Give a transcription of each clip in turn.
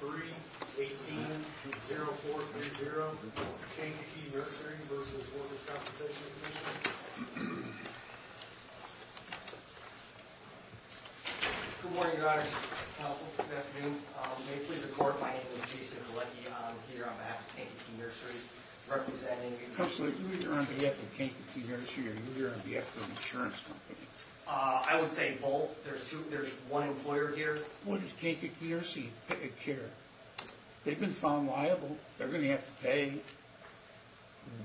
3-18-0430 Kankakee Nursery v. The Workers' Compensation Commission Good morning, your honors. Counsel, good afternoon. May it please the court, my name is Jason Galecki. I'm here on behalf of Kankakee Nursery representing... Counsel, are you here on behalf of Kankakee Nursery or are you here on behalf of an insurance company? I would say both. There's one employer here. What does Kankakee Nursery care? They've been found liable. They're going to have to pay.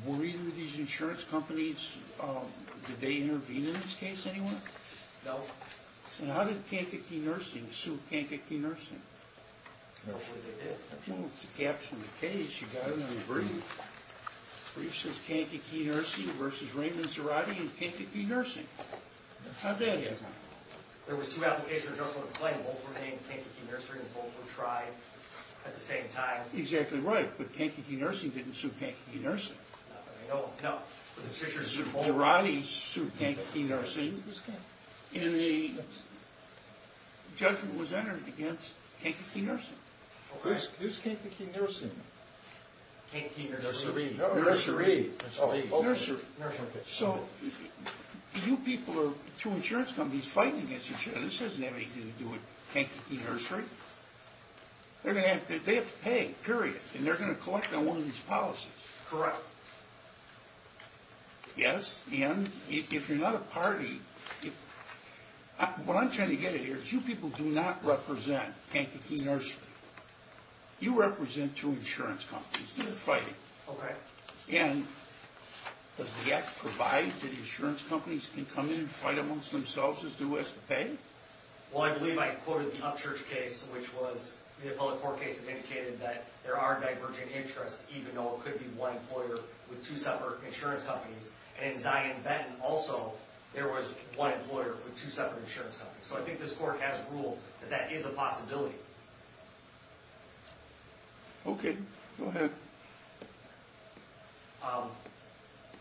Were either of these insurance companies... Did they intervene in this case anyway? No. And how did Kankakee Nursing sue Kankakee Nursing? I'm not sure they did. Well, it's a caption of the case. You've got it on the brief. The brief says Kankakee Nursery v. Raymond Cerati and Kankakee Nursing. How bad is it? There was two applications that were just on the plain. Both were named Kankakee Nursery and both were tried at the same time. Exactly right, but Kankakee Nursing didn't sue Kankakee Nursing. No. No, but the Fisher v. Cerati sued Kankakee Nursing and the judgment was entered against Kankakee Nursing. Who's Kankakee Nursing? Kankakee Nursery. Nursery. Nursery. So you people are two insurance companies fighting against each other. This doesn't have anything to do with Kankakee Nursery. They're going to have to pay, period, and they're going to collect on one of these policies. Correct. Yes, and if you're not a party... What I'm trying to get at here is you people do not represent Kankakee Nursery. You represent two insurance companies fighting. Correct. And does the act provide that the insurance companies can come in and fight amongst themselves as to who has to pay? Well, I believe I quoted the Upchurch case, which was the appellate court case that indicated that there are divergent interests, even though it could be one employer with two separate insurance companies. And in Zion Benton, also, there was one employer with two separate insurance companies. So I think this court has ruled that that is a possibility. Okay. Go ahead.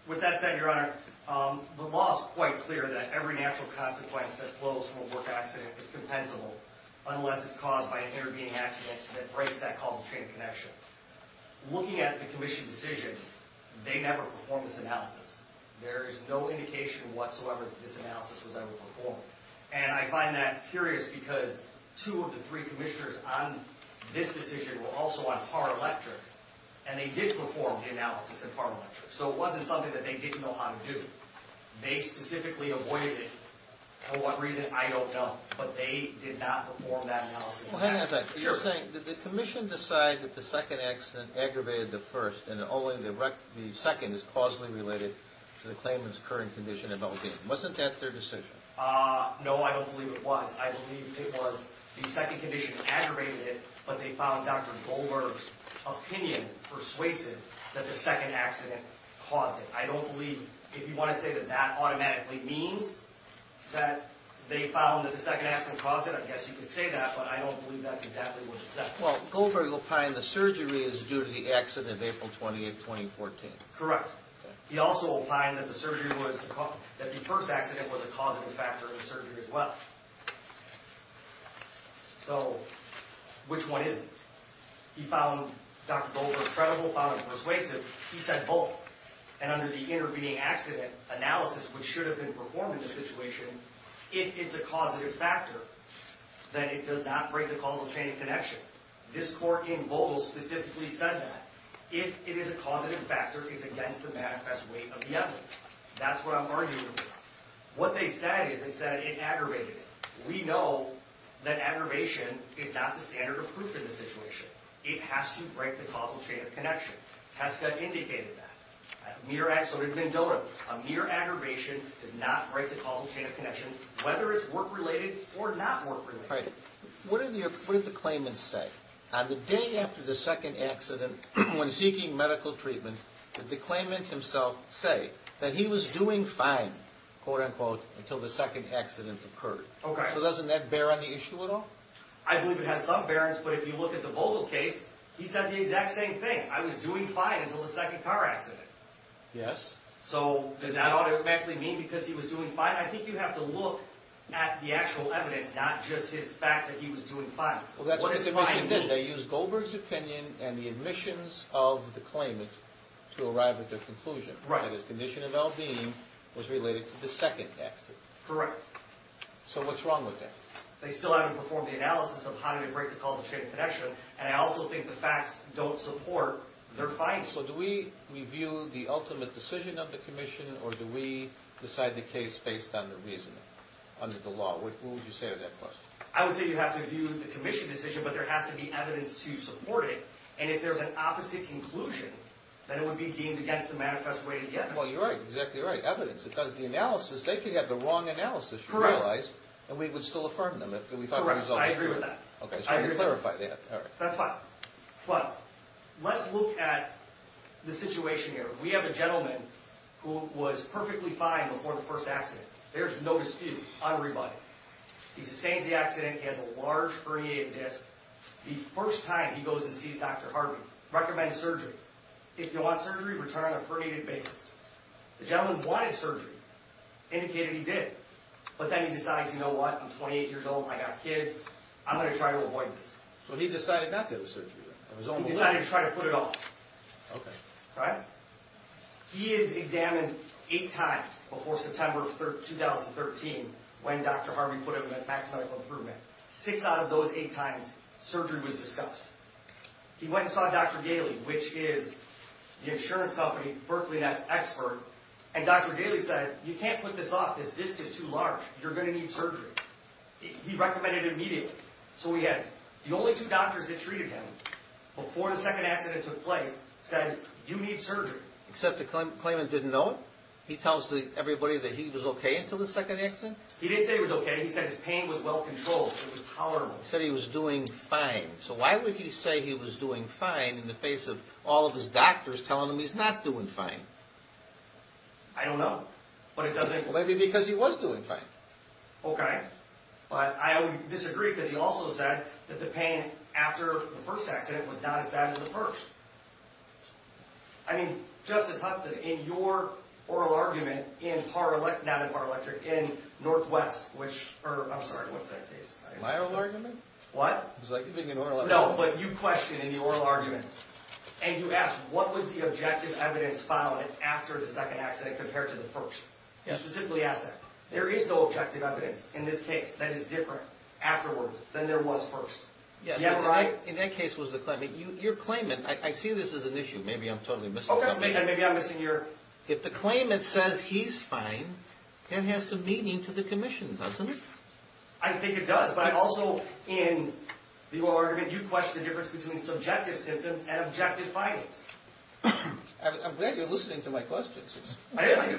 With that said, Your Honor, the law is quite clear that every natural consequence that flows from a work accident is compensable unless it's caused by an intervening accident that breaks that causal chain of connection. Looking at the commission decision, they never performed this analysis. There is no indication whatsoever that this analysis was ever performed. And I find that curious because two of the three commissioners on this decision were also on par electric, and they did perform the analysis in par electric. So it wasn't something that they didn't know how to do. They specifically avoided it. For what reason, I don't know. But they did not perform that analysis. Well, hang on a second. Sure. The commission decided that the second accident aggravated the first, and only the second is causally related to the claimant's current condition in Belgium. Wasn't that their decision? No, I don't believe it was. I believe it was the second condition aggravated it, but they found Dr. Goldberg's opinion persuasive that the second accident caused it. I don't believe, if you want to say that that automatically means that they found that the second accident caused it, I guess you could say that, but I don't believe that's exactly what it said. Well, Goldberg opined the surgery is due to the accident of April 28, 2014. Correct. He also opined that the first accident was a causative factor in the surgery as well. So which one is it? He found Dr. Goldberg credible, found it persuasive. He said both, and under the intervening accident analysis, which should have been performed in this situation, if it's a causative factor, then it does not break the causal chain of connection. This court in Vogel specifically said that. If it is a causative factor, it's against the manifest weight of the evidence. That's what I'm arguing. What they said is they said it aggravated it. We know that aggravation is not the standard of proof in this situation. It has to break the causal chain of connection. TSCA indicated that. A mere accident of mendota, a mere aggravation does not break the causal chain of connection, whether it's work-related or not work-related. What did the claimants say? On the day after the second accident, when seeking medical treatment, did the claimant himself say that he was doing fine, quote-unquote, until the second accident occurred? Okay. So doesn't that bear on the issue at all? I believe it has some bearings, but if you look at the Vogel case, he said the exact same thing. I was doing fine until the second car accident. Yes. So does that automatically mean because he was doing fine? I think you have to look at the actual evidence, not just his fact that he was doing fine. Well, that's what the commission did. They used Goldberg's opinion and the admissions of the claimant to arrive at their conclusion. Right. That his condition of L.D. was related to the second accident. Correct. So what's wrong with that? They still haven't performed the analysis of how to break the causal chain of connection, and I also think the facts don't support their findings. So do we review the ultimate decision of the commission, or do we decide the case based on the reasoning under the law? What would you say to that question? I would say you have to review the commission decision, but there has to be evidence to support it, and if there's an opposite conclusion, then it would be deemed against the manifest way to get it. Well, you're exactly right. Evidence. Because the analysis, they could have the wrong analysis, you realize. Correct. And we would still affirm them if we thought the result was good. Correct. I agree with that. Okay, so you clarify that. That's fine. But let's look at the situation here. We have a gentleman who was perfectly fine before the first accident. There's no dispute on everybody. He sustains the accident. He has a large herniated disc. The first time he goes and sees Dr. Harvey, recommends surgery. If you want surgery, return on a herniated basis. The gentleman wanted surgery, indicated he did. But then he decides, you know what? I'm 28 years old. I got kids. I'm going to try to avoid this. So he decided not to have surgery. He decided to try to put it off. Okay. Right? He is examined eight times before September of 2013, when Dr. Harvey put him at maximum improvement. Six out of those eight times, surgery was discussed. He went and saw Dr. Gailey, which is the insurance company, Berkeley, that's expert. And Dr. Gailey said, you can't put this off. This disc is too large. You're going to need surgery. He recommended it immediately. So we had the only two doctors that treated him before the second accident took place said, you need surgery. Except the claimant didn't know it? He tells everybody that he was okay until the second accident? He didn't say he was okay. He said his pain was well controlled. It was tolerable. He said he was doing fine. So why would he say he was doing fine in the face of all of his doctors telling him he's not doing fine? I don't know. Maybe because he was doing fine. Okay. But I would disagree because he also said that the pain after the first accident was not as bad as the first. I mean, Justice Hudson, in your oral argument in Par-Electric, not in Par-Electric, in Northwest, which, I'm sorry, what's that case? My oral argument? What? It was like giving an oral argument. No, but you questioned in the oral arguments, and you asked what was the objective evidence following after the second accident compared to the first. Yes. You specifically asked that. There is no objective evidence. In this case, that is different afterwards than there was first. Yes. You're right. In that case was the claimant. Your claimant, I see this as an issue. Maybe I'm totally missing something. Okay. Maybe I'm missing your... If the claimant says he's fine, that has some meaning to the commission, doesn't it? I think it does. But I also, in the oral argument, you questioned the difference between subjective symptoms and objective findings. I'm glad you're listening to my questions. I do.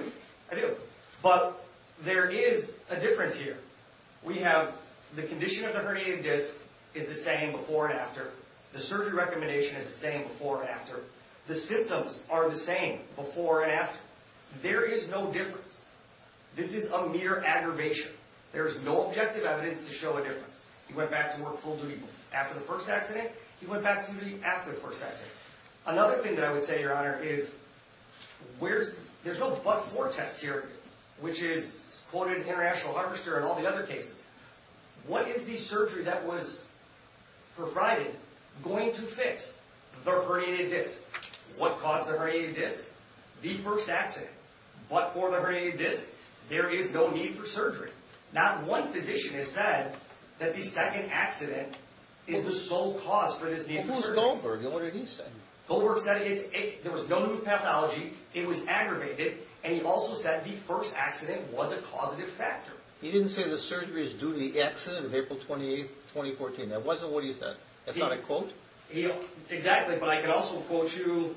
I do. But there is a difference here. We have the condition of the herniated disc is the same before and after. The surgery recommendation is the same before and after. The symptoms are the same before and after. There is no difference. This is a mere aggravation. There is no objective evidence to show a difference. He went back to work full-duty after the first accident. He went back to full-duty after the first accident. Another thing that I would say, Your Honor, is there's no but-for test here, which is quoted in International Harvester and all the other cases. What is the surgery that was provided going to fix the herniated disc? What caused the herniated disc? The first accident. But for the herniated disc, there is no need for surgery. Not one physician has said that the second accident is the sole cause for this need for surgery. What did Goldberg say? Goldberg said there was no new pathology, it was aggravated, and he also said the first accident was a causative factor. He didn't say the surgery is due to the accident of April 28, 2014. That wasn't what he said. That's not a quote? Exactly. But I can also quote you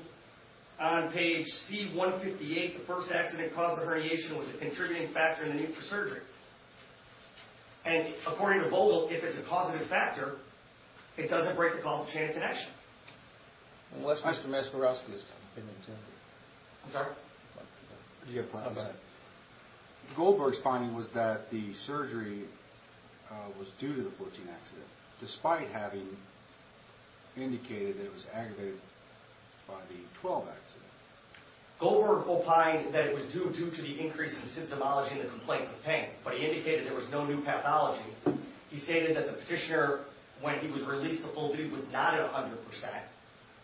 on page C-158. The first accident caused the herniation was a contributing factor in the need for surgery. And according to Vogel, if it's a causative factor, it doesn't break the causal chain of connection. Mr. Meskeroski. I'm sorry? I'm sorry. Goldberg's finding was that the surgery was due to the 14th accident, despite having indicated that it was aggravated by the 12th accident. Goldberg opined that it was due to the increase in symptomology in the complaints of pain, but he indicated there was no new pathology. He stated that the petitioner, when he was released to full duty, was not at 100%.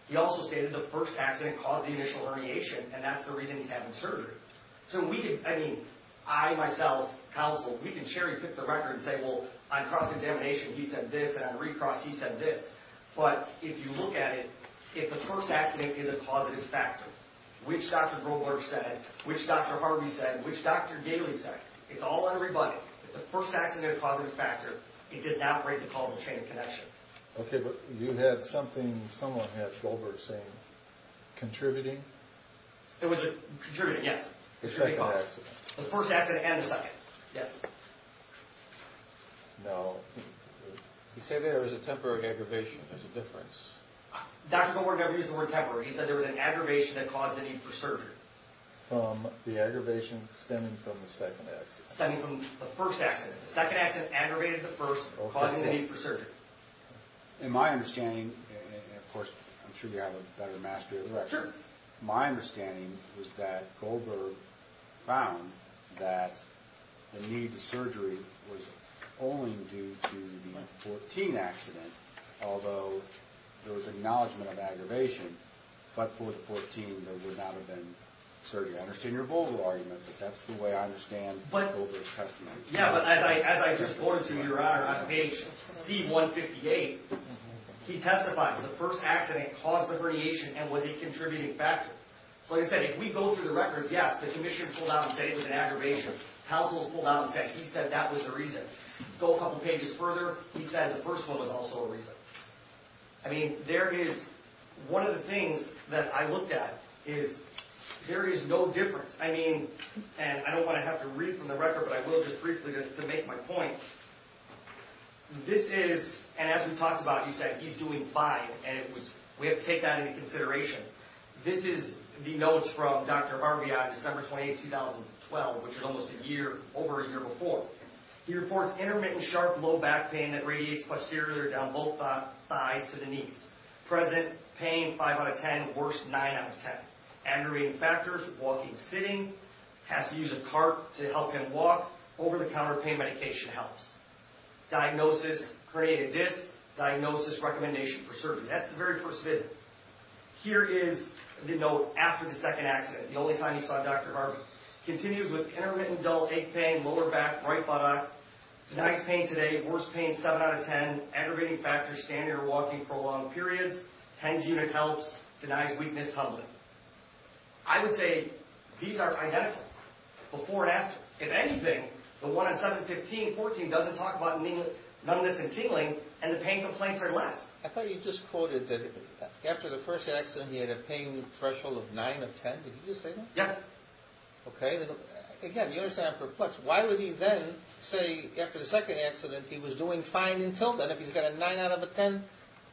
He also stated the first accident caused the initial herniation, and that's the reason he's having surgery. So we could, I mean, I, myself, counsel, we can cherry pick the record and say, well, on cross-examination, he said this, and on recross, he said this. But if you look at it, if the first accident is a causative factor, which Dr. Goldberg said, which Dr. Harvey said, which Dr. Daly said, it's all on everybody. If the first accident is a causative factor, it does not break the causal chain of connection. Okay, but you had something, someone had Goldberg saying, contributing? It was contributing, yes. The second accident. The first accident and the second, yes. Now, you say there was a temporary aggravation. There's a difference. Dr. Goldberg never used the word temporary. He said there was an aggravation that caused the need for surgery. From the aggravation stemming from the second accident. Stemming from the first accident. The second accident aggravated the first, causing the need for surgery. In my understanding, and of course, I'm sure you have a better mastery of the record. My understanding was that Goldberg found that the need for surgery was only due to the 14 accident, although there was acknowledgement of aggravation. But for the 14, there would not have been surgery. I understand your Goldberg argument, but that's the way I understand Goldberg's testimony. Yeah, but as I just quoted to you, Your Honor, on page C-158, he testifies. The first accident caused the radiation and was a contributing factor. So like I said, if we go through the records, yes, the commission pulled out and said it was an aggravation. Households pulled out and said, he said that was the reason. Go a couple pages further, he said the first one was also a reason. I mean, there is, one of the things that I looked at is, there is no difference. I mean, and I don't want to have to read from the record, but I will just briefly to make my point. This is, and as we talked about, he said he's doing fine, and we have to take that into consideration. This is the notes from Dr. Harvey on December 28, 2012, which is almost a year, over a year before. He reports intermittent, sharp, low back pain that radiates posterior down both thighs to the knees. Present pain, 5 out of 10, worst, 9 out of 10. Aggravating factors, walking, sitting, has to use a cart to help him walk. Over-the-counter pain medication helps. Diagnosis, herniated disc. Diagnosis, recommendation for surgery. That's the very first visit. Here is the note after the second accident, the only time he saw Dr. Harvey. Continues with intermittent, dull ache pain, lower back, right buttock. Denies pain today, worst pain, 7 out of 10. Aggravating factors, standing or walking for long periods. TENS unit helps. Denies weakness publicly. I would say these are identical before and after. If anything, the one on 7, 15, 14 doesn't talk about numbness and tingling, and the pain complaints are less. I thought you just quoted that after the first accident he had a pain threshold of 9 of 10. Did you just say that? Yes. Okay. Again, you understand I'm perplexed. Why would he then say after the second accident he was doing fine until then if he's got a 9 out of a 10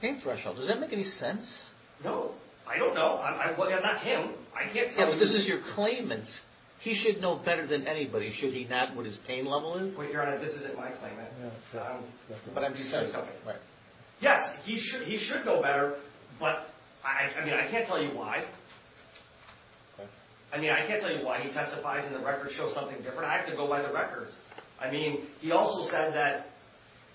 pain threshold? Does that make any sense? No. I don't know. I'm not him. I can't tell you. Yeah, but this is your claimant. He should know better than anybody, should he not, what his pain level is? Well, Your Honor, this isn't my claimant. But I'm just saying. Okay. Right. Yes, he should know better, but, I mean, I can't tell you why. I mean, I can't tell you why he testifies and the records show something different. I have to go by the records. I mean, he also said that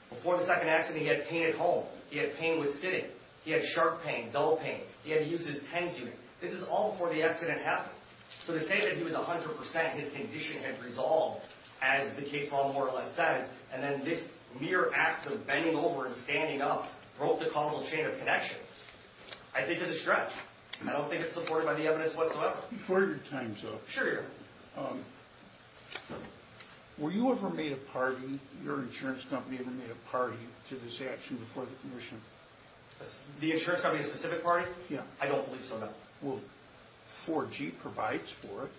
before the second accident he had pain at home. He had pain with sitting. He had sharp pain, dull pain. He had to use his TENS unit. This is all before the accident happened. So to say that he was 100% his condition had resolved, as the case law more or less says, and then this mere act of bending over and standing up broke the causal chain of connection, I think is a stretch. I don't think it's supported by the evidence whatsoever. Before your time, sir. Sure, Your Honor. Were you ever made a party, your insurance company ever made a party to this action before the commission? The insurance company's specific party? Yeah. I don't believe so, no. Well, 4G provides for it.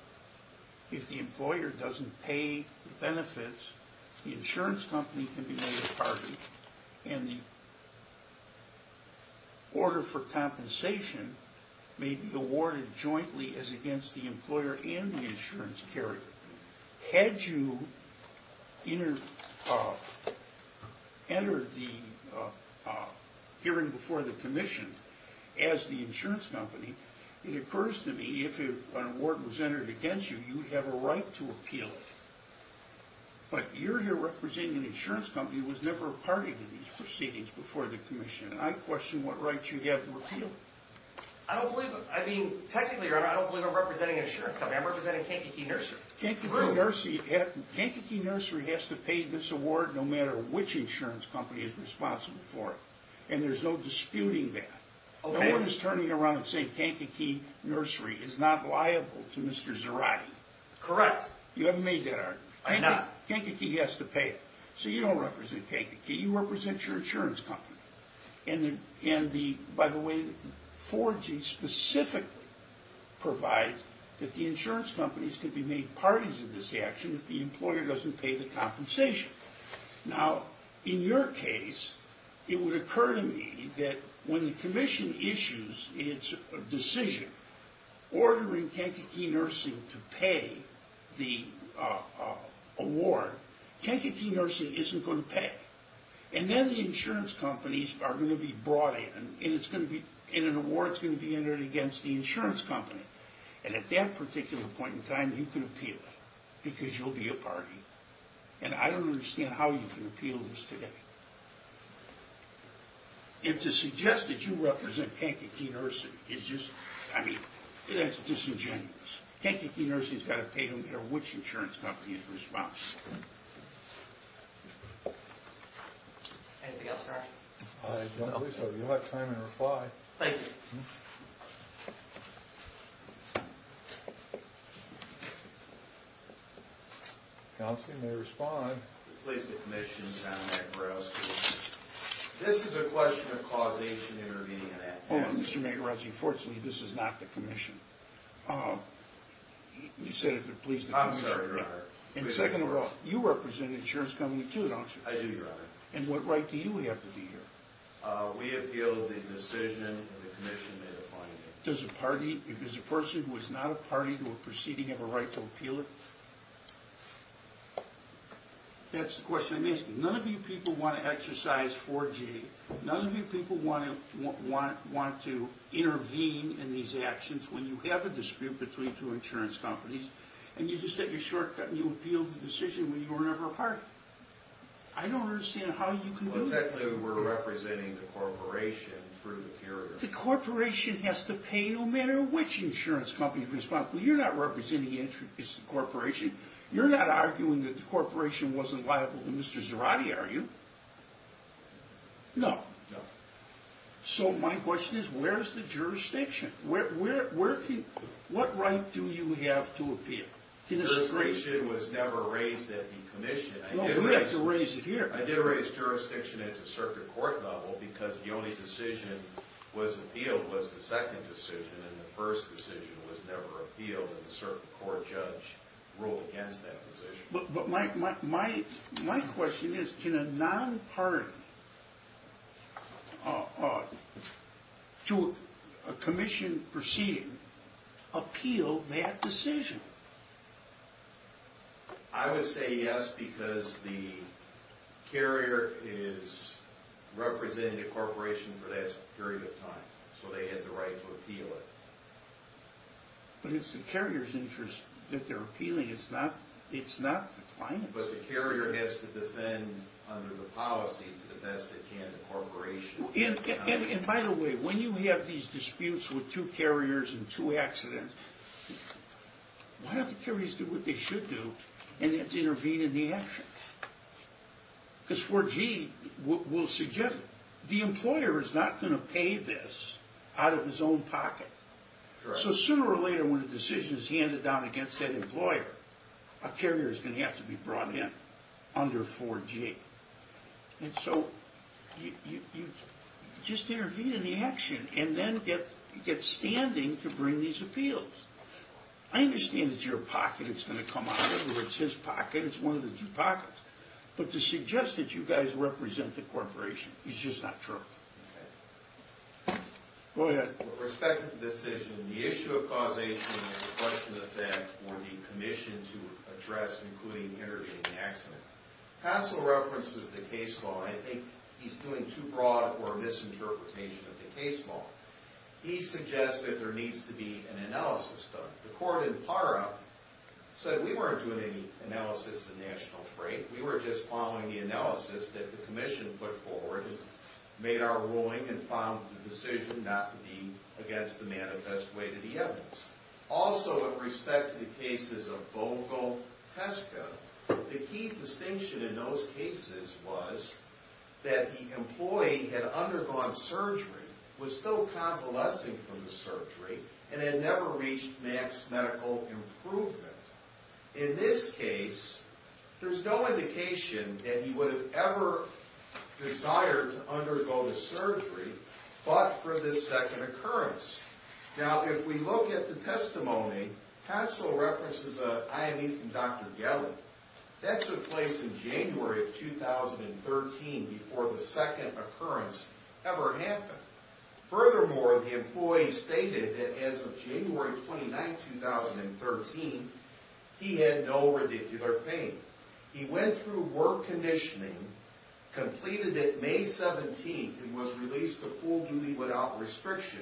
If the employer doesn't pay the benefits, the insurance company can be made a party. And the order for compensation may be awarded jointly as against the employer and the insurance carrier. Had you entered the hearing before the commission as the insurance company, it occurs to me if an award was entered against you, you would have a right to appeal it. But you're here representing an insurance company that was never a party to these proceedings before the commission, and I question what right you have to appeal it. I don't believe it. I mean, technically, Your Honor, I don't believe I'm representing an insurance company. I'm representing Kankakee Nursery. Kankakee Nursery has to pay this award no matter which insurance company is responsible for it. And there's no disputing that. Okay. No one is turning around and saying Kankakee Nursery is not liable to Mr. Zarate. Correct. You haven't made that argument. I have not. Kankakee has to pay it. So you don't represent Kankakee. You represent your insurance company. And, by the way, Fordsey specifically provides that the insurance companies can be made parties in this action if the employer doesn't pay the compensation. Now, in your case, it would occur to me that when the commission issues its decision ordering Kankakee Nursing to pay the award, Kankakee Nursing isn't going to pay. And then the insurance companies are going to be brought in, and an award is going to be entered against the insurance company. And at that particular point in time, you can appeal it because you'll be a party. And I don't understand how you can appeal this today. And to suggest that you represent Kankakee Nursing is just, I mean, that's disingenuous. Kankakee Nursing has got to pay no matter which insurance company is responsible. Anything else, Larry? No. If you don't believe so, you'll have time to reply. Thank you. Johnson, you may respond. Please, the commission. Tom Nagarowski. This is a question of causation intervening in that case. Mr. Nagarowski, unfortunately, this is not the commission. You said, please, the commission. I'm sorry, Your Honor. And second of all, you represent an insurance company too, don't you? I do, Your Honor. And what right do you have to be here? We appeal the decision the commission made upon you. Does a person who is not a party to a proceeding have a right to appeal it? That's the question I'm asking. None of you people want to exercise 4G. None of you people want to intervene in these actions when you have a dispute between two insurance companies and you just take a shortcut and you appeal the decision when you were never a party. I don't understand how you can do that. Technically, we're representing the corporation through the period. The corporation has to pay no matter which insurance company is responsible. You're not representing the corporation. You're not arguing that the corporation wasn't liable to Mr. Zarate, are you? No. So my question is, where is the jurisdiction? What right do you have to appeal? Jurisdiction was never raised at the commission. No, we have to raise it here. I did raise jurisdiction at the circuit court level because the only decision that was appealed was the second decision and the first decision was never appealed and the circuit court judge ruled against that decision. But my question is, can a non-party to a commission proceeding appeal that decision? I would say yes because the carrier is representing the corporation for that period of time, so they had the right to appeal it. But it's the carrier's interest that they're appealing. It's not the client's. But the carrier has to defend under the policy to the best it can the corporation. And by the way, when you have these disputes with two carriers and two accidents, why don't the carriers do what they should do and intervene in the action? Because 4G will suggest it. The employer is not going to pay this out of his own pocket. So sooner or later when a decision is handed down against that employer, a carrier is going to have to be brought in under 4G. And so you just intervene in the action and then get standing to bring these appeals. I understand it's your pocket it's going to come out of. It's his pocket. It's one of the two pockets. But to suggest that you guys represent the corporation is just not true. Okay. Go ahead. With respect to the decision, the issue of causation and the question of effect were the commission to address including intervening in the accident. Hassell references the case law. I think he's doing too broad or a misinterpretation of the case law. He suggests that there needs to be an analysis done. The court in PARA said we weren't doing any analysis of national freight. We were just following the analysis that the commission put forward and made our ruling and found the decision not to be against the manifest way to the evidence. Also, with respect to the cases of Bogo Tesco, the key distinction in those cases was that the employee had undergone surgery, was still convalescing from the surgery, and had never reached max medical improvement. In this case, there's no indication that he would have ever desired to undergo the surgery but for this second occurrence. Now, if we look at the testimony, Hassell references an IME from Dr. Gelley. That took place in January of 2013 before the second occurrence ever happened. Furthermore, the employee stated that as of January 29, 2013, he had no radicular pain. He went through work conditioning, completed it May 17, and was released to full duty without restriction.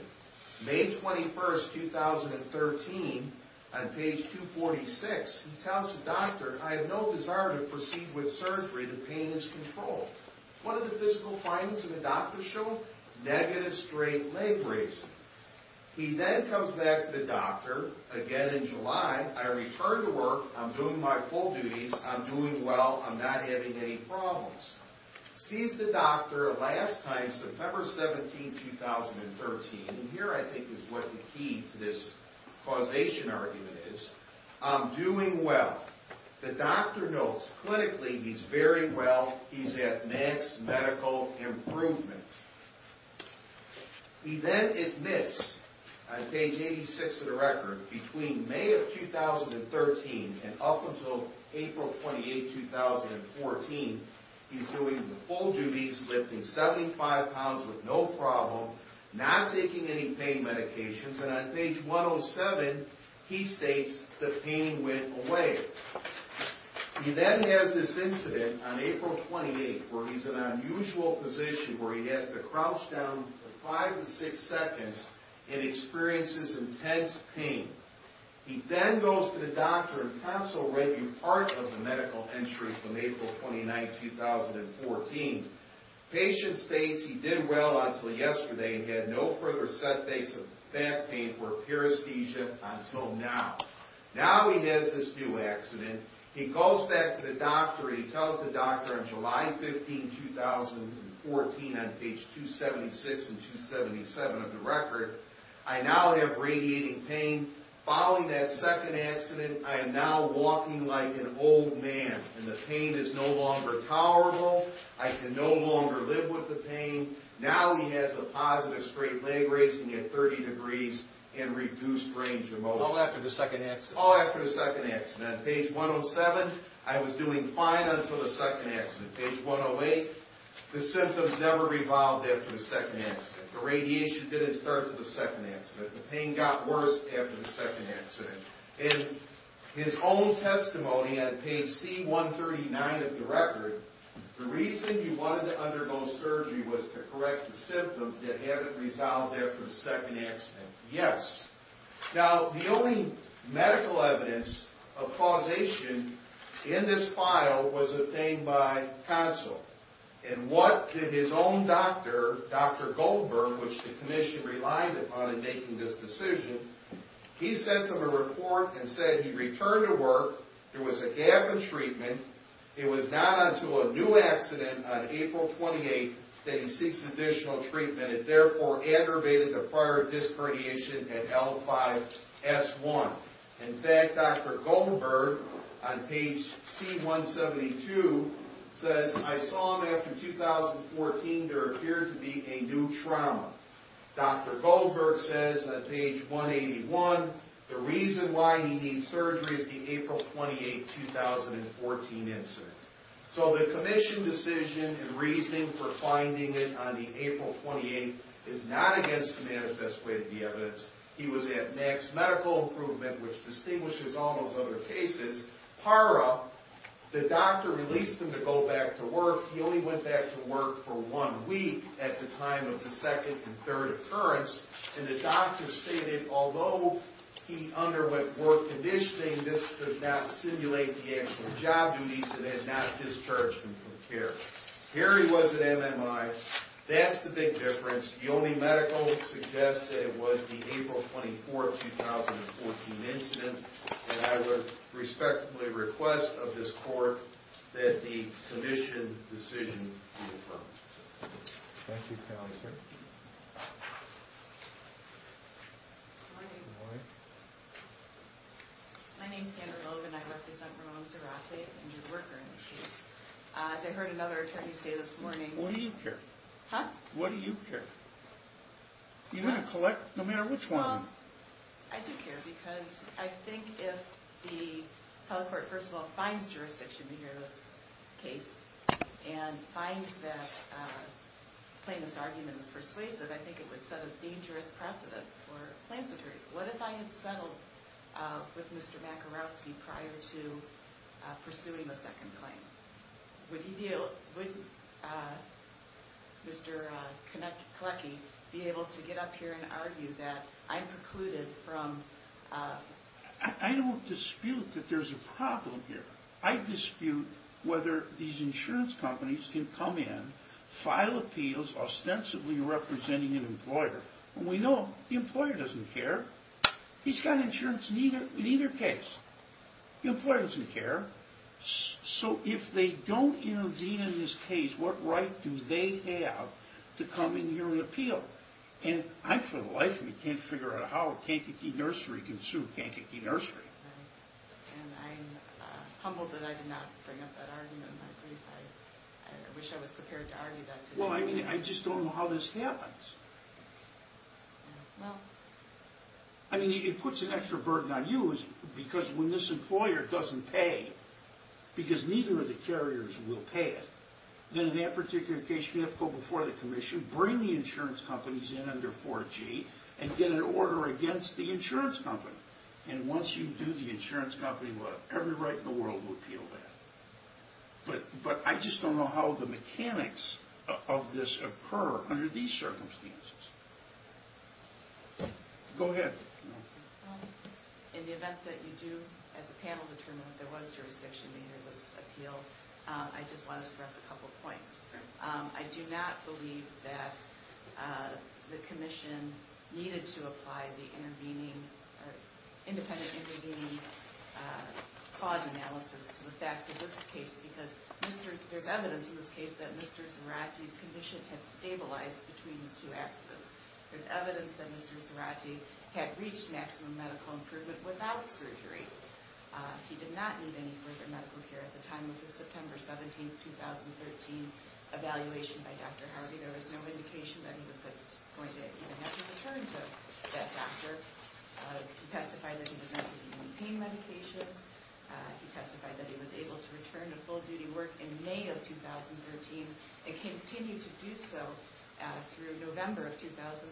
May 21, 2013, on page 246, he tells the doctor, I have no desire to proceed with surgery. The pain is controlled. What did the physical findings of the doctor show? Negative straight leg raising. He then comes back to the doctor again in July. I return to work. I'm doing my full duties. I'm doing well. I'm not having any problems. He sees the doctor last time, September 17, 2013, and here I think is what the key to this causation argument is. I'm doing well. The doctor notes, clinically, he's very well. He's at max medical improvement. He then admits, on page 86 of the record, between May of 2013 and up until April 28, 2014, he's doing the full duties, lifting 75 pounds with no problem, not taking any pain medications, and on page 107, he states the pain went away. He then has this incident on April 28, where he's in an unusual position where he has to crouch down for five to six seconds and experiences intense pain. He then goes to the doctor Part of the medical entry from April 29, 2014. The patient states he did well until yesterday and had no further setbacks of back pain or paresthesia until now. Now he has this new accident. He goes back to the doctor and he tells the doctor on July 15, 2014, on page 276 and 277 of the record, I now have radiating pain. Following that second accident, I am now walking like an old man and the pain is no longer tolerable. I can no longer live with the pain. Now he has a positive straight leg raising at 30 degrees and reduced range of motion. All after the second accident? All after the second accident. On page 107, I was doing fine until the second accident. Page 108, the symptoms never revolved after the second accident. The radiation didn't start until the second accident. The pain got worse after the second accident. In his own testimony on page C139 of the record, the reason you wanted to undergo surgery was to correct the symptoms that haven't resolved after the second accident. Yes. Now the only medical evidence of causation in this file was obtained by counsel. And what did his own doctor, Dr. Goldberg, which the commission relied upon in making this decision, he sent him a report and said he returned to work, there was a gap in treatment, it was not until a new accident on April 28th that he seeks additional treatment. It therefore aggravated the prior disc radiation at L5-S1. In fact, Dr. Goldberg on page C172 says, I saw him after 2014, there appeared to be a new trauma. Dr. Goldberg says on page 181, the reason why he needs surgery is the April 28th, 2014 incident. So the commission decision and reasoning for finding it on the April 28th is not against the manifest way of the evidence. He was at max medical improvement, which distinguishes all those other cases, PARA, the doctor released him to go back to work. He only went back to work for one week at the time of the second and third occurrence. And the doctor stated, although he underwent work conditioning, this could not simulate the actual job duties and had not discharged him from care. Here he was at MMI. That's the big difference. The only medical suggests that it was the April 24th, 2014 incident. And I would respectfully request of this court that the commission decision be affirmed. Thank you, Counselor. Good morning. Good morning. My name is Sandra Loeb and I represent Ramon Zarate and your worker in the case. As I heard another attorney say this morning. What do you care? Huh? What do you care? You're going to collect no matter which one. I do care because I think if the telecourt, first of all, finds jurisdiction to hear this case and finds that the claimant's argument is persuasive, I think it would set a dangerous precedent for claims attorneys. What if I had settled with Mr. Makarowski prior to pursuing the second claim? Would Mr. Kolecki be able to get up here and argue that I precluded from... I don't dispute that there's a problem here. I dispute whether these insurance companies can come in, file appeals ostensibly representing an employer. And we know the employer doesn't care. He's got insurance in either case. The employer doesn't care. So if they don't intervene in this case, what right do they have to come in here and appeal? And I for the life of me can't figure out how Kankakee Nursery can sue Kankakee Nursery. Right. And I'm humbled that I did not bring up that argument in my brief. I wish I was prepared to argue that today. Well, I mean, I just don't know how this happens. Well... I mean, it puts an extra burden on you because when this employer doesn't pay, because neither of the carriers will pay it, then in that particular case, you have to go before the commission, you have to bring the insurance companies in under 4G and get an order against the insurance company. And once you do, the insurance company will have every right in the world to appeal that. But I just don't know how the mechanics of this occur under these circumstances. Go ahead. In the event that you do, as a panel, determine that there was jurisdiction and there was appeal, I just want to stress a couple points. I do not believe that the commission needed to apply the independent intervening cause analysis to the facts of this case because there's evidence in this case that Mr. Zarate's condition had stabilized between these two accidents. There's evidence that Mr. Zarate had reached maximum medical improvement without surgery. He did not need any further medical care at the time of his September 17, 2013, evaluation by Dr. Harvey. There was no indication that he was going to even have to return to that doctor. He testified that he was on pain medications. He testified that he was able to return to full-duty work in May of 2013 and continued to do so through November of 2013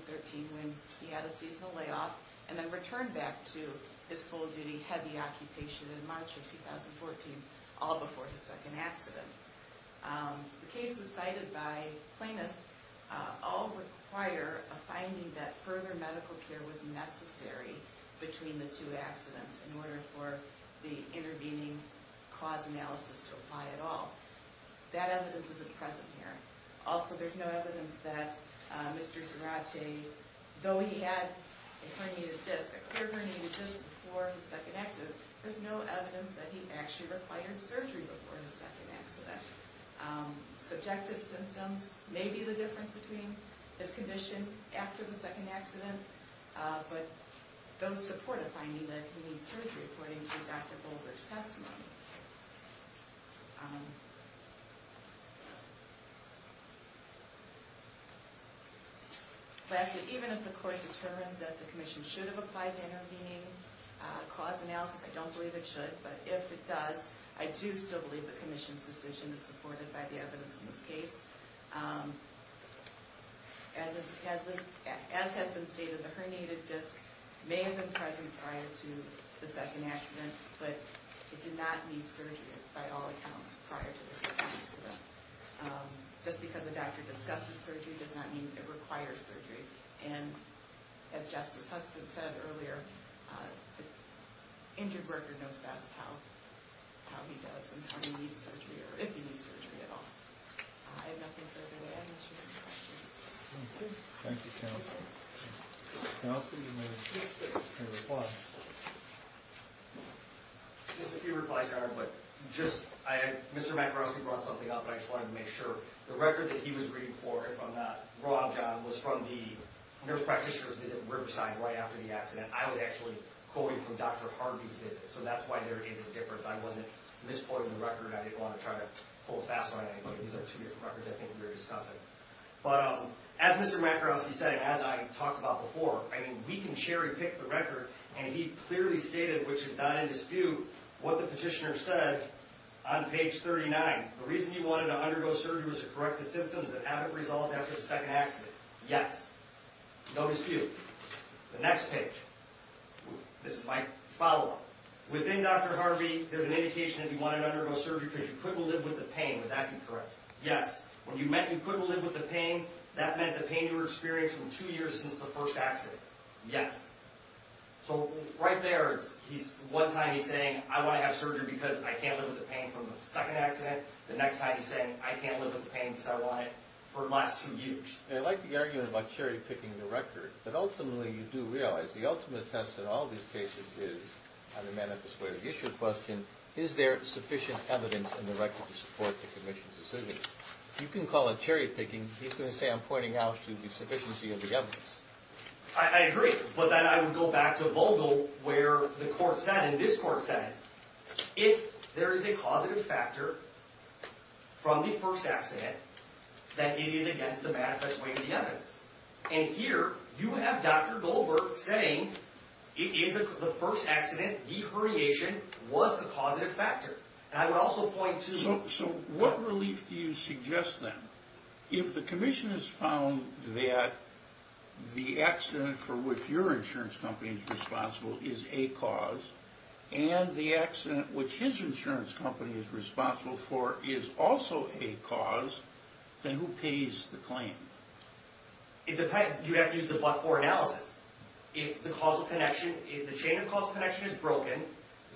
when he had a seasonal layoff and then returned back to his full-duty heavy occupation in March of 2014, all before his second accident. The cases cited by plaintiffs all require a finding that further medical care was necessary between the two accidents in order for the intervening cause analysis to apply at all. That evidence isn't present here. Also, there's no evidence that Mr. Zarate, though he had a clear herniated disc before his second accident, there's no evidence that he actually required surgery before his second accident. Subjective symptoms may be the difference between his condition after the second accident, but those support a finding that he needs surgery, according to Dr. Goldberg's testimony. Lastly, even if the court determines that the commission should have applied to intervening cause analysis, I don't believe it should, but if it does, I do still believe the commission's decision is supported by the evidence in this case. As has been stated, the herniated disc may have been present prior to the second accident, but it did not need surgery, by all accounts, prior to the second accident. Just because a doctor discusses surgery does not mean it requires surgery, and as Justice Hudson said earlier, the injured worker knows best how he does and how he needs surgery, or if he needs surgery at all. I have nothing further to add, unless you have any questions. Thank you, counsel. Counsel, you may reply. Just a few replies, Your Honor. Mr. Makarowski brought something up, and I just wanted to make sure. The record that he was reading for, if I'm not wrong, John, was from the nurse practitioner's visit in Riverside right after the accident. I was actually quoting from Dr. Harvey's visit, so that's why there is a difference. I wasn't misplotting the record. I didn't want to try to pull fast on anything. These are two different records, I think, we were discussing. But as Mr. Makarowski said, and as I talked about before, we can cherry-pick the record, and he clearly stated, which is not in dispute, what the petitioner said on page 39. The reason you wanted to undergo surgery was to correct the symptoms that haven't resolved after the second accident. Yes. No dispute. The next page. This is my follow-up. Within Dr. Harvey, there's an indication that you wanted to undergo surgery because you couldn't live with the pain. Would that be correct? Yes. When you meant you couldn't live with the pain, that meant the pain you were experiencing two years since the first accident. Yes. So right there, one time he's saying, I want to have surgery because I can't live with the pain from the second accident. The next time he's saying, I can't live with the pain because I want it for the last two years. I like the argument about cherry-picking the record, but ultimately you do realize the ultimate test in all these cases is, on the manifest way of the issue question, is there sufficient evidence in the record to support the commission's decision? You can call it cherry-picking. He's going to say I'm pointing out to the sufficiency of the evidence. I agree, but then I would go back to Vogel where the court said, and this court said, if there is a causative factor from the first accident, that it is against the manifest way of the evidence. And here, you have Dr. Goldberg saying the first accident, the herniation, was the causative factor. So what relief do you suggest then? If the commission has found that the accident for which your insurance company is responsible is a cause, and the accident which his insurance company is responsible for is also a cause, then who pays the claim? You have to use the but-for analysis. If the causal connection, if the chain of causal connection is broken,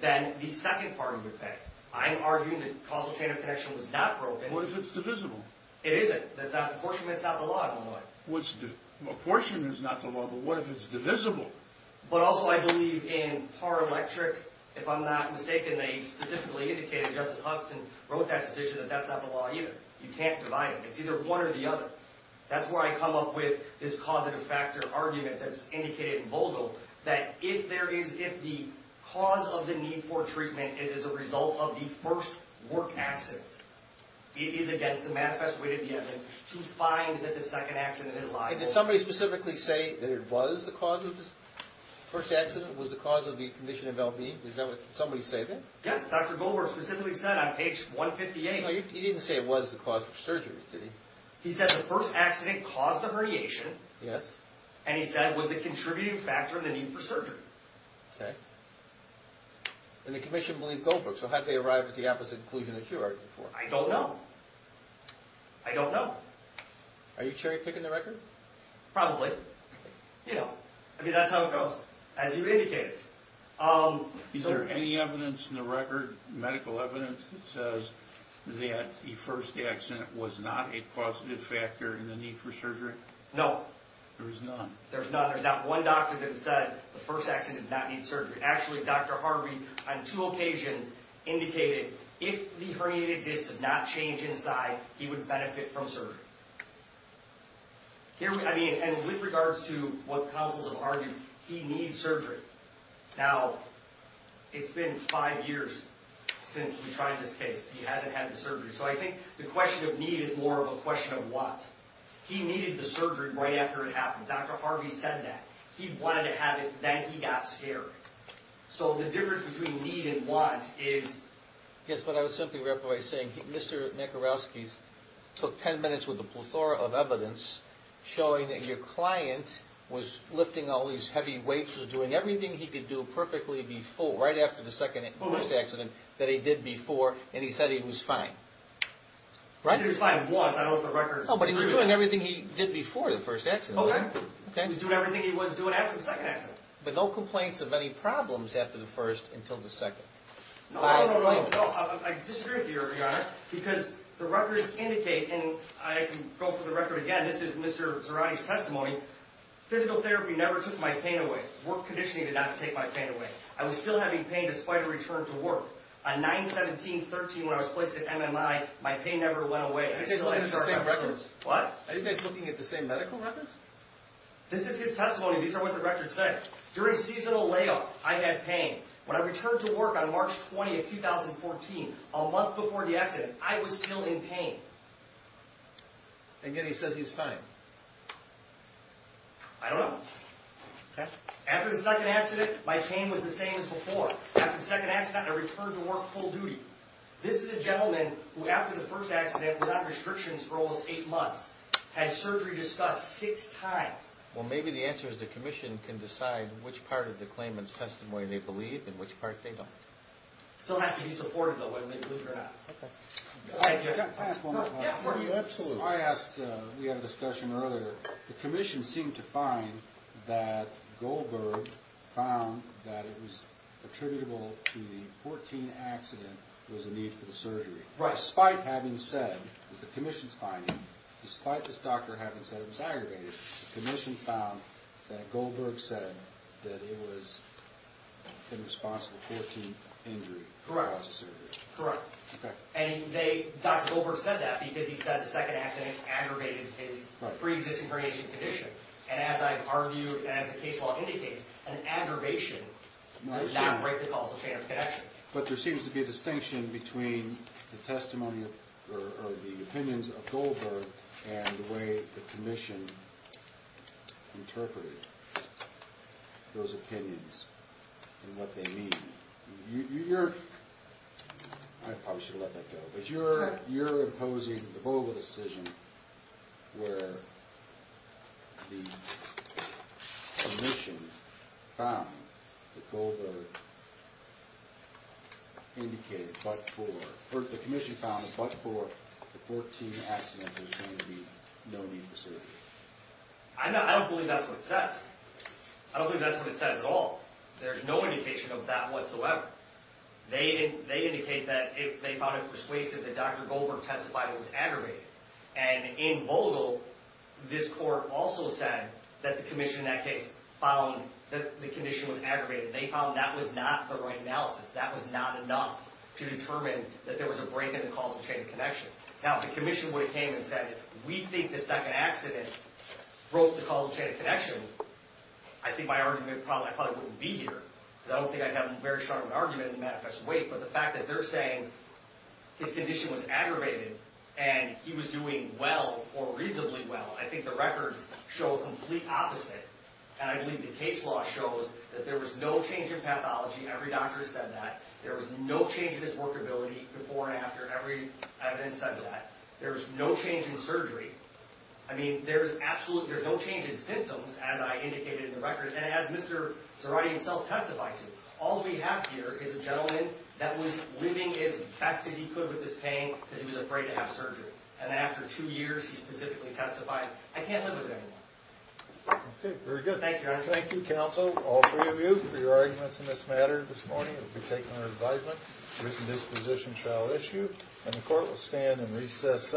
then the second party would pay. I'm arguing that the causal chain of connection was not broken. What if it's divisible? It isn't. That's not the apportionment. It's not the law. I don't know why. Apportionment is not the law, but what if it's divisible? But also I believe in par-electric. If I'm not mistaken, they specifically indicated, Justice Huston wrote that decision, that that's not the law either. You can't divide them. It's either one or the other. That's where I come up with this causative factor argument that's indicated in Volgo, that if the cause of the need for treatment is a result of the first work accident, it is against the manifest way to the evidence to find that the second accident is liable. Did somebody specifically say that it was the cause of the first accident, was the cause of the condition of LB? Did somebody say that? Yes, Dr. Goldberg specifically said on page 158. He said the first accident caused the herniation. Yes. And he said it was the contributing factor in the need for surgery. Okay. And the commission believed Goldberg, so how did they arrive at the opposite conclusion that you argued for? I don't know. I don't know. Are you cherry-picking the record? Probably. You know, I mean, that's how it goes, as you've indicated. Is there any evidence in the record, medical evidence, that says that the first accident was not a causative factor in the need for surgery? No. There's none. There's none. There's not one doctor that said the first accident did not need surgery. Actually, Dr. Harvey, on two occasions, indicated if the herniated disc did not change inside, he would benefit from surgery. Here, I mean, and with regards to what counsels have argued, he needs surgery. Now, it's been five years since we tried this case. He hasn't had the surgery. So I think the question of need is more of a question of want. He needed the surgery right after it happened. Dr. Harvey said that. He wanted to have it. Then he got scared. So the difference between need and want is... Yes, but I would simply reply by saying Mr. Makarowski took ten minutes with a plethora of evidence showing that your client was lifting all these heavy weights, was doing everything he could do perfectly before, right after the second accident that he did before, and he said he was fine. Right? He said he was fine. He was, I know for a record. No, but he was doing everything he did before the first accident. Okay. He was doing everything he was doing after the second accident. But no complaints of any problems after the first until the second. No, no, no, no. I disagree with you, Your Honor, because the records indicate, and I can go through the record again. This is Mr. Zarate's testimony. Physical therapy never took my pain away. Work conditioning did not take my pain away. I was still having pain despite a return to work. On 9-17-13 when I was placed at MMI, my pain never went away. Are you guys looking at the same records? What? Are you guys looking at the same medical records? This is his testimony. These are what the records say. During seasonal layoff, I had pain. When I returned to work on March 20, 2014, a month before the accident, I was still in pain. And yet he says he's fine. I don't know. Okay. After the second accident, my pain was the same as before. After the second accident, I returned to work full duty. This is a gentleman who after the first accident without restrictions for almost eight months had surgery discussed six times. Well, maybe the answer is the commission can decide which part of the claimant's testimony they believe and which part they don't. It still has to be supported, though, whether they believe it or not. Okay. Can I ask one more question? Absolutely. I asked, we had a discussion earlier. The commission seemed to find that Goldberg found that it was attributable to the 14th accident was a need for the surgery. Despite having said that the commission's finding, despite this doctor having said it was aggravated, the commission found that Goldberg said that it was in response to the 14th injury. Correct. Correct. Okay. And Dr. Goldberg said that because he said the second accident aggravated his preexisting condition. And as I've argued and as the case law indicates, an aggravation does not break the causal chain of connection. But there seems to be a distinction between the testimony or the opinions of Goldberg and the way the commission interpreted those opinions and what they mean. You're – I probably should have let that go. But you're imposing the Goldberg decision where the commission found that Goldberg indicated but for – or the commission found that but for the 14th accident there's going to be no need for surgery. I don't believe that's what it says. I don't believe that's what it says at all. There's no indication of that whatsoever. They indicate that they found it persuasive that Dr. Goldberg testified it was aggravated. And in Vogel, this court also said that the commission in that case found that the condition was aggravated. They found that was not the right analysis. That was not enough to determine that there was a break in the causal chain of connection. Now, if the commission would have came and said, we think the second accident broke the causal chain of connection, I think my argument probably wouldn't be here. Because I don't think I'd have a very strong argument to manifest weight. But the fact that they're saying his condition was aggravated and he was doing well or reasonably well, I think the records show a complete opposite. And I believe the case law shows that there was no change in pathology. Every doctor said that. There was no change in his workability before and after. Every evidence says that. There was no change in surgery. I mean, there's no change in symptoms, as I indicated in the records, and as Mr. Zerati himself testified to. All we have here is a gentleman that was living as best as he could with this pain because he was afraid to have surgery. And after two years, he specifically testified, I can't live with it anymore. Okay, very good. Thank you, Your Honor. Thank you, counsel, all three of you, for your arguments in this matter this morning. It will be taken under advisement. Written disposition shall issue. And the court will stand and recess.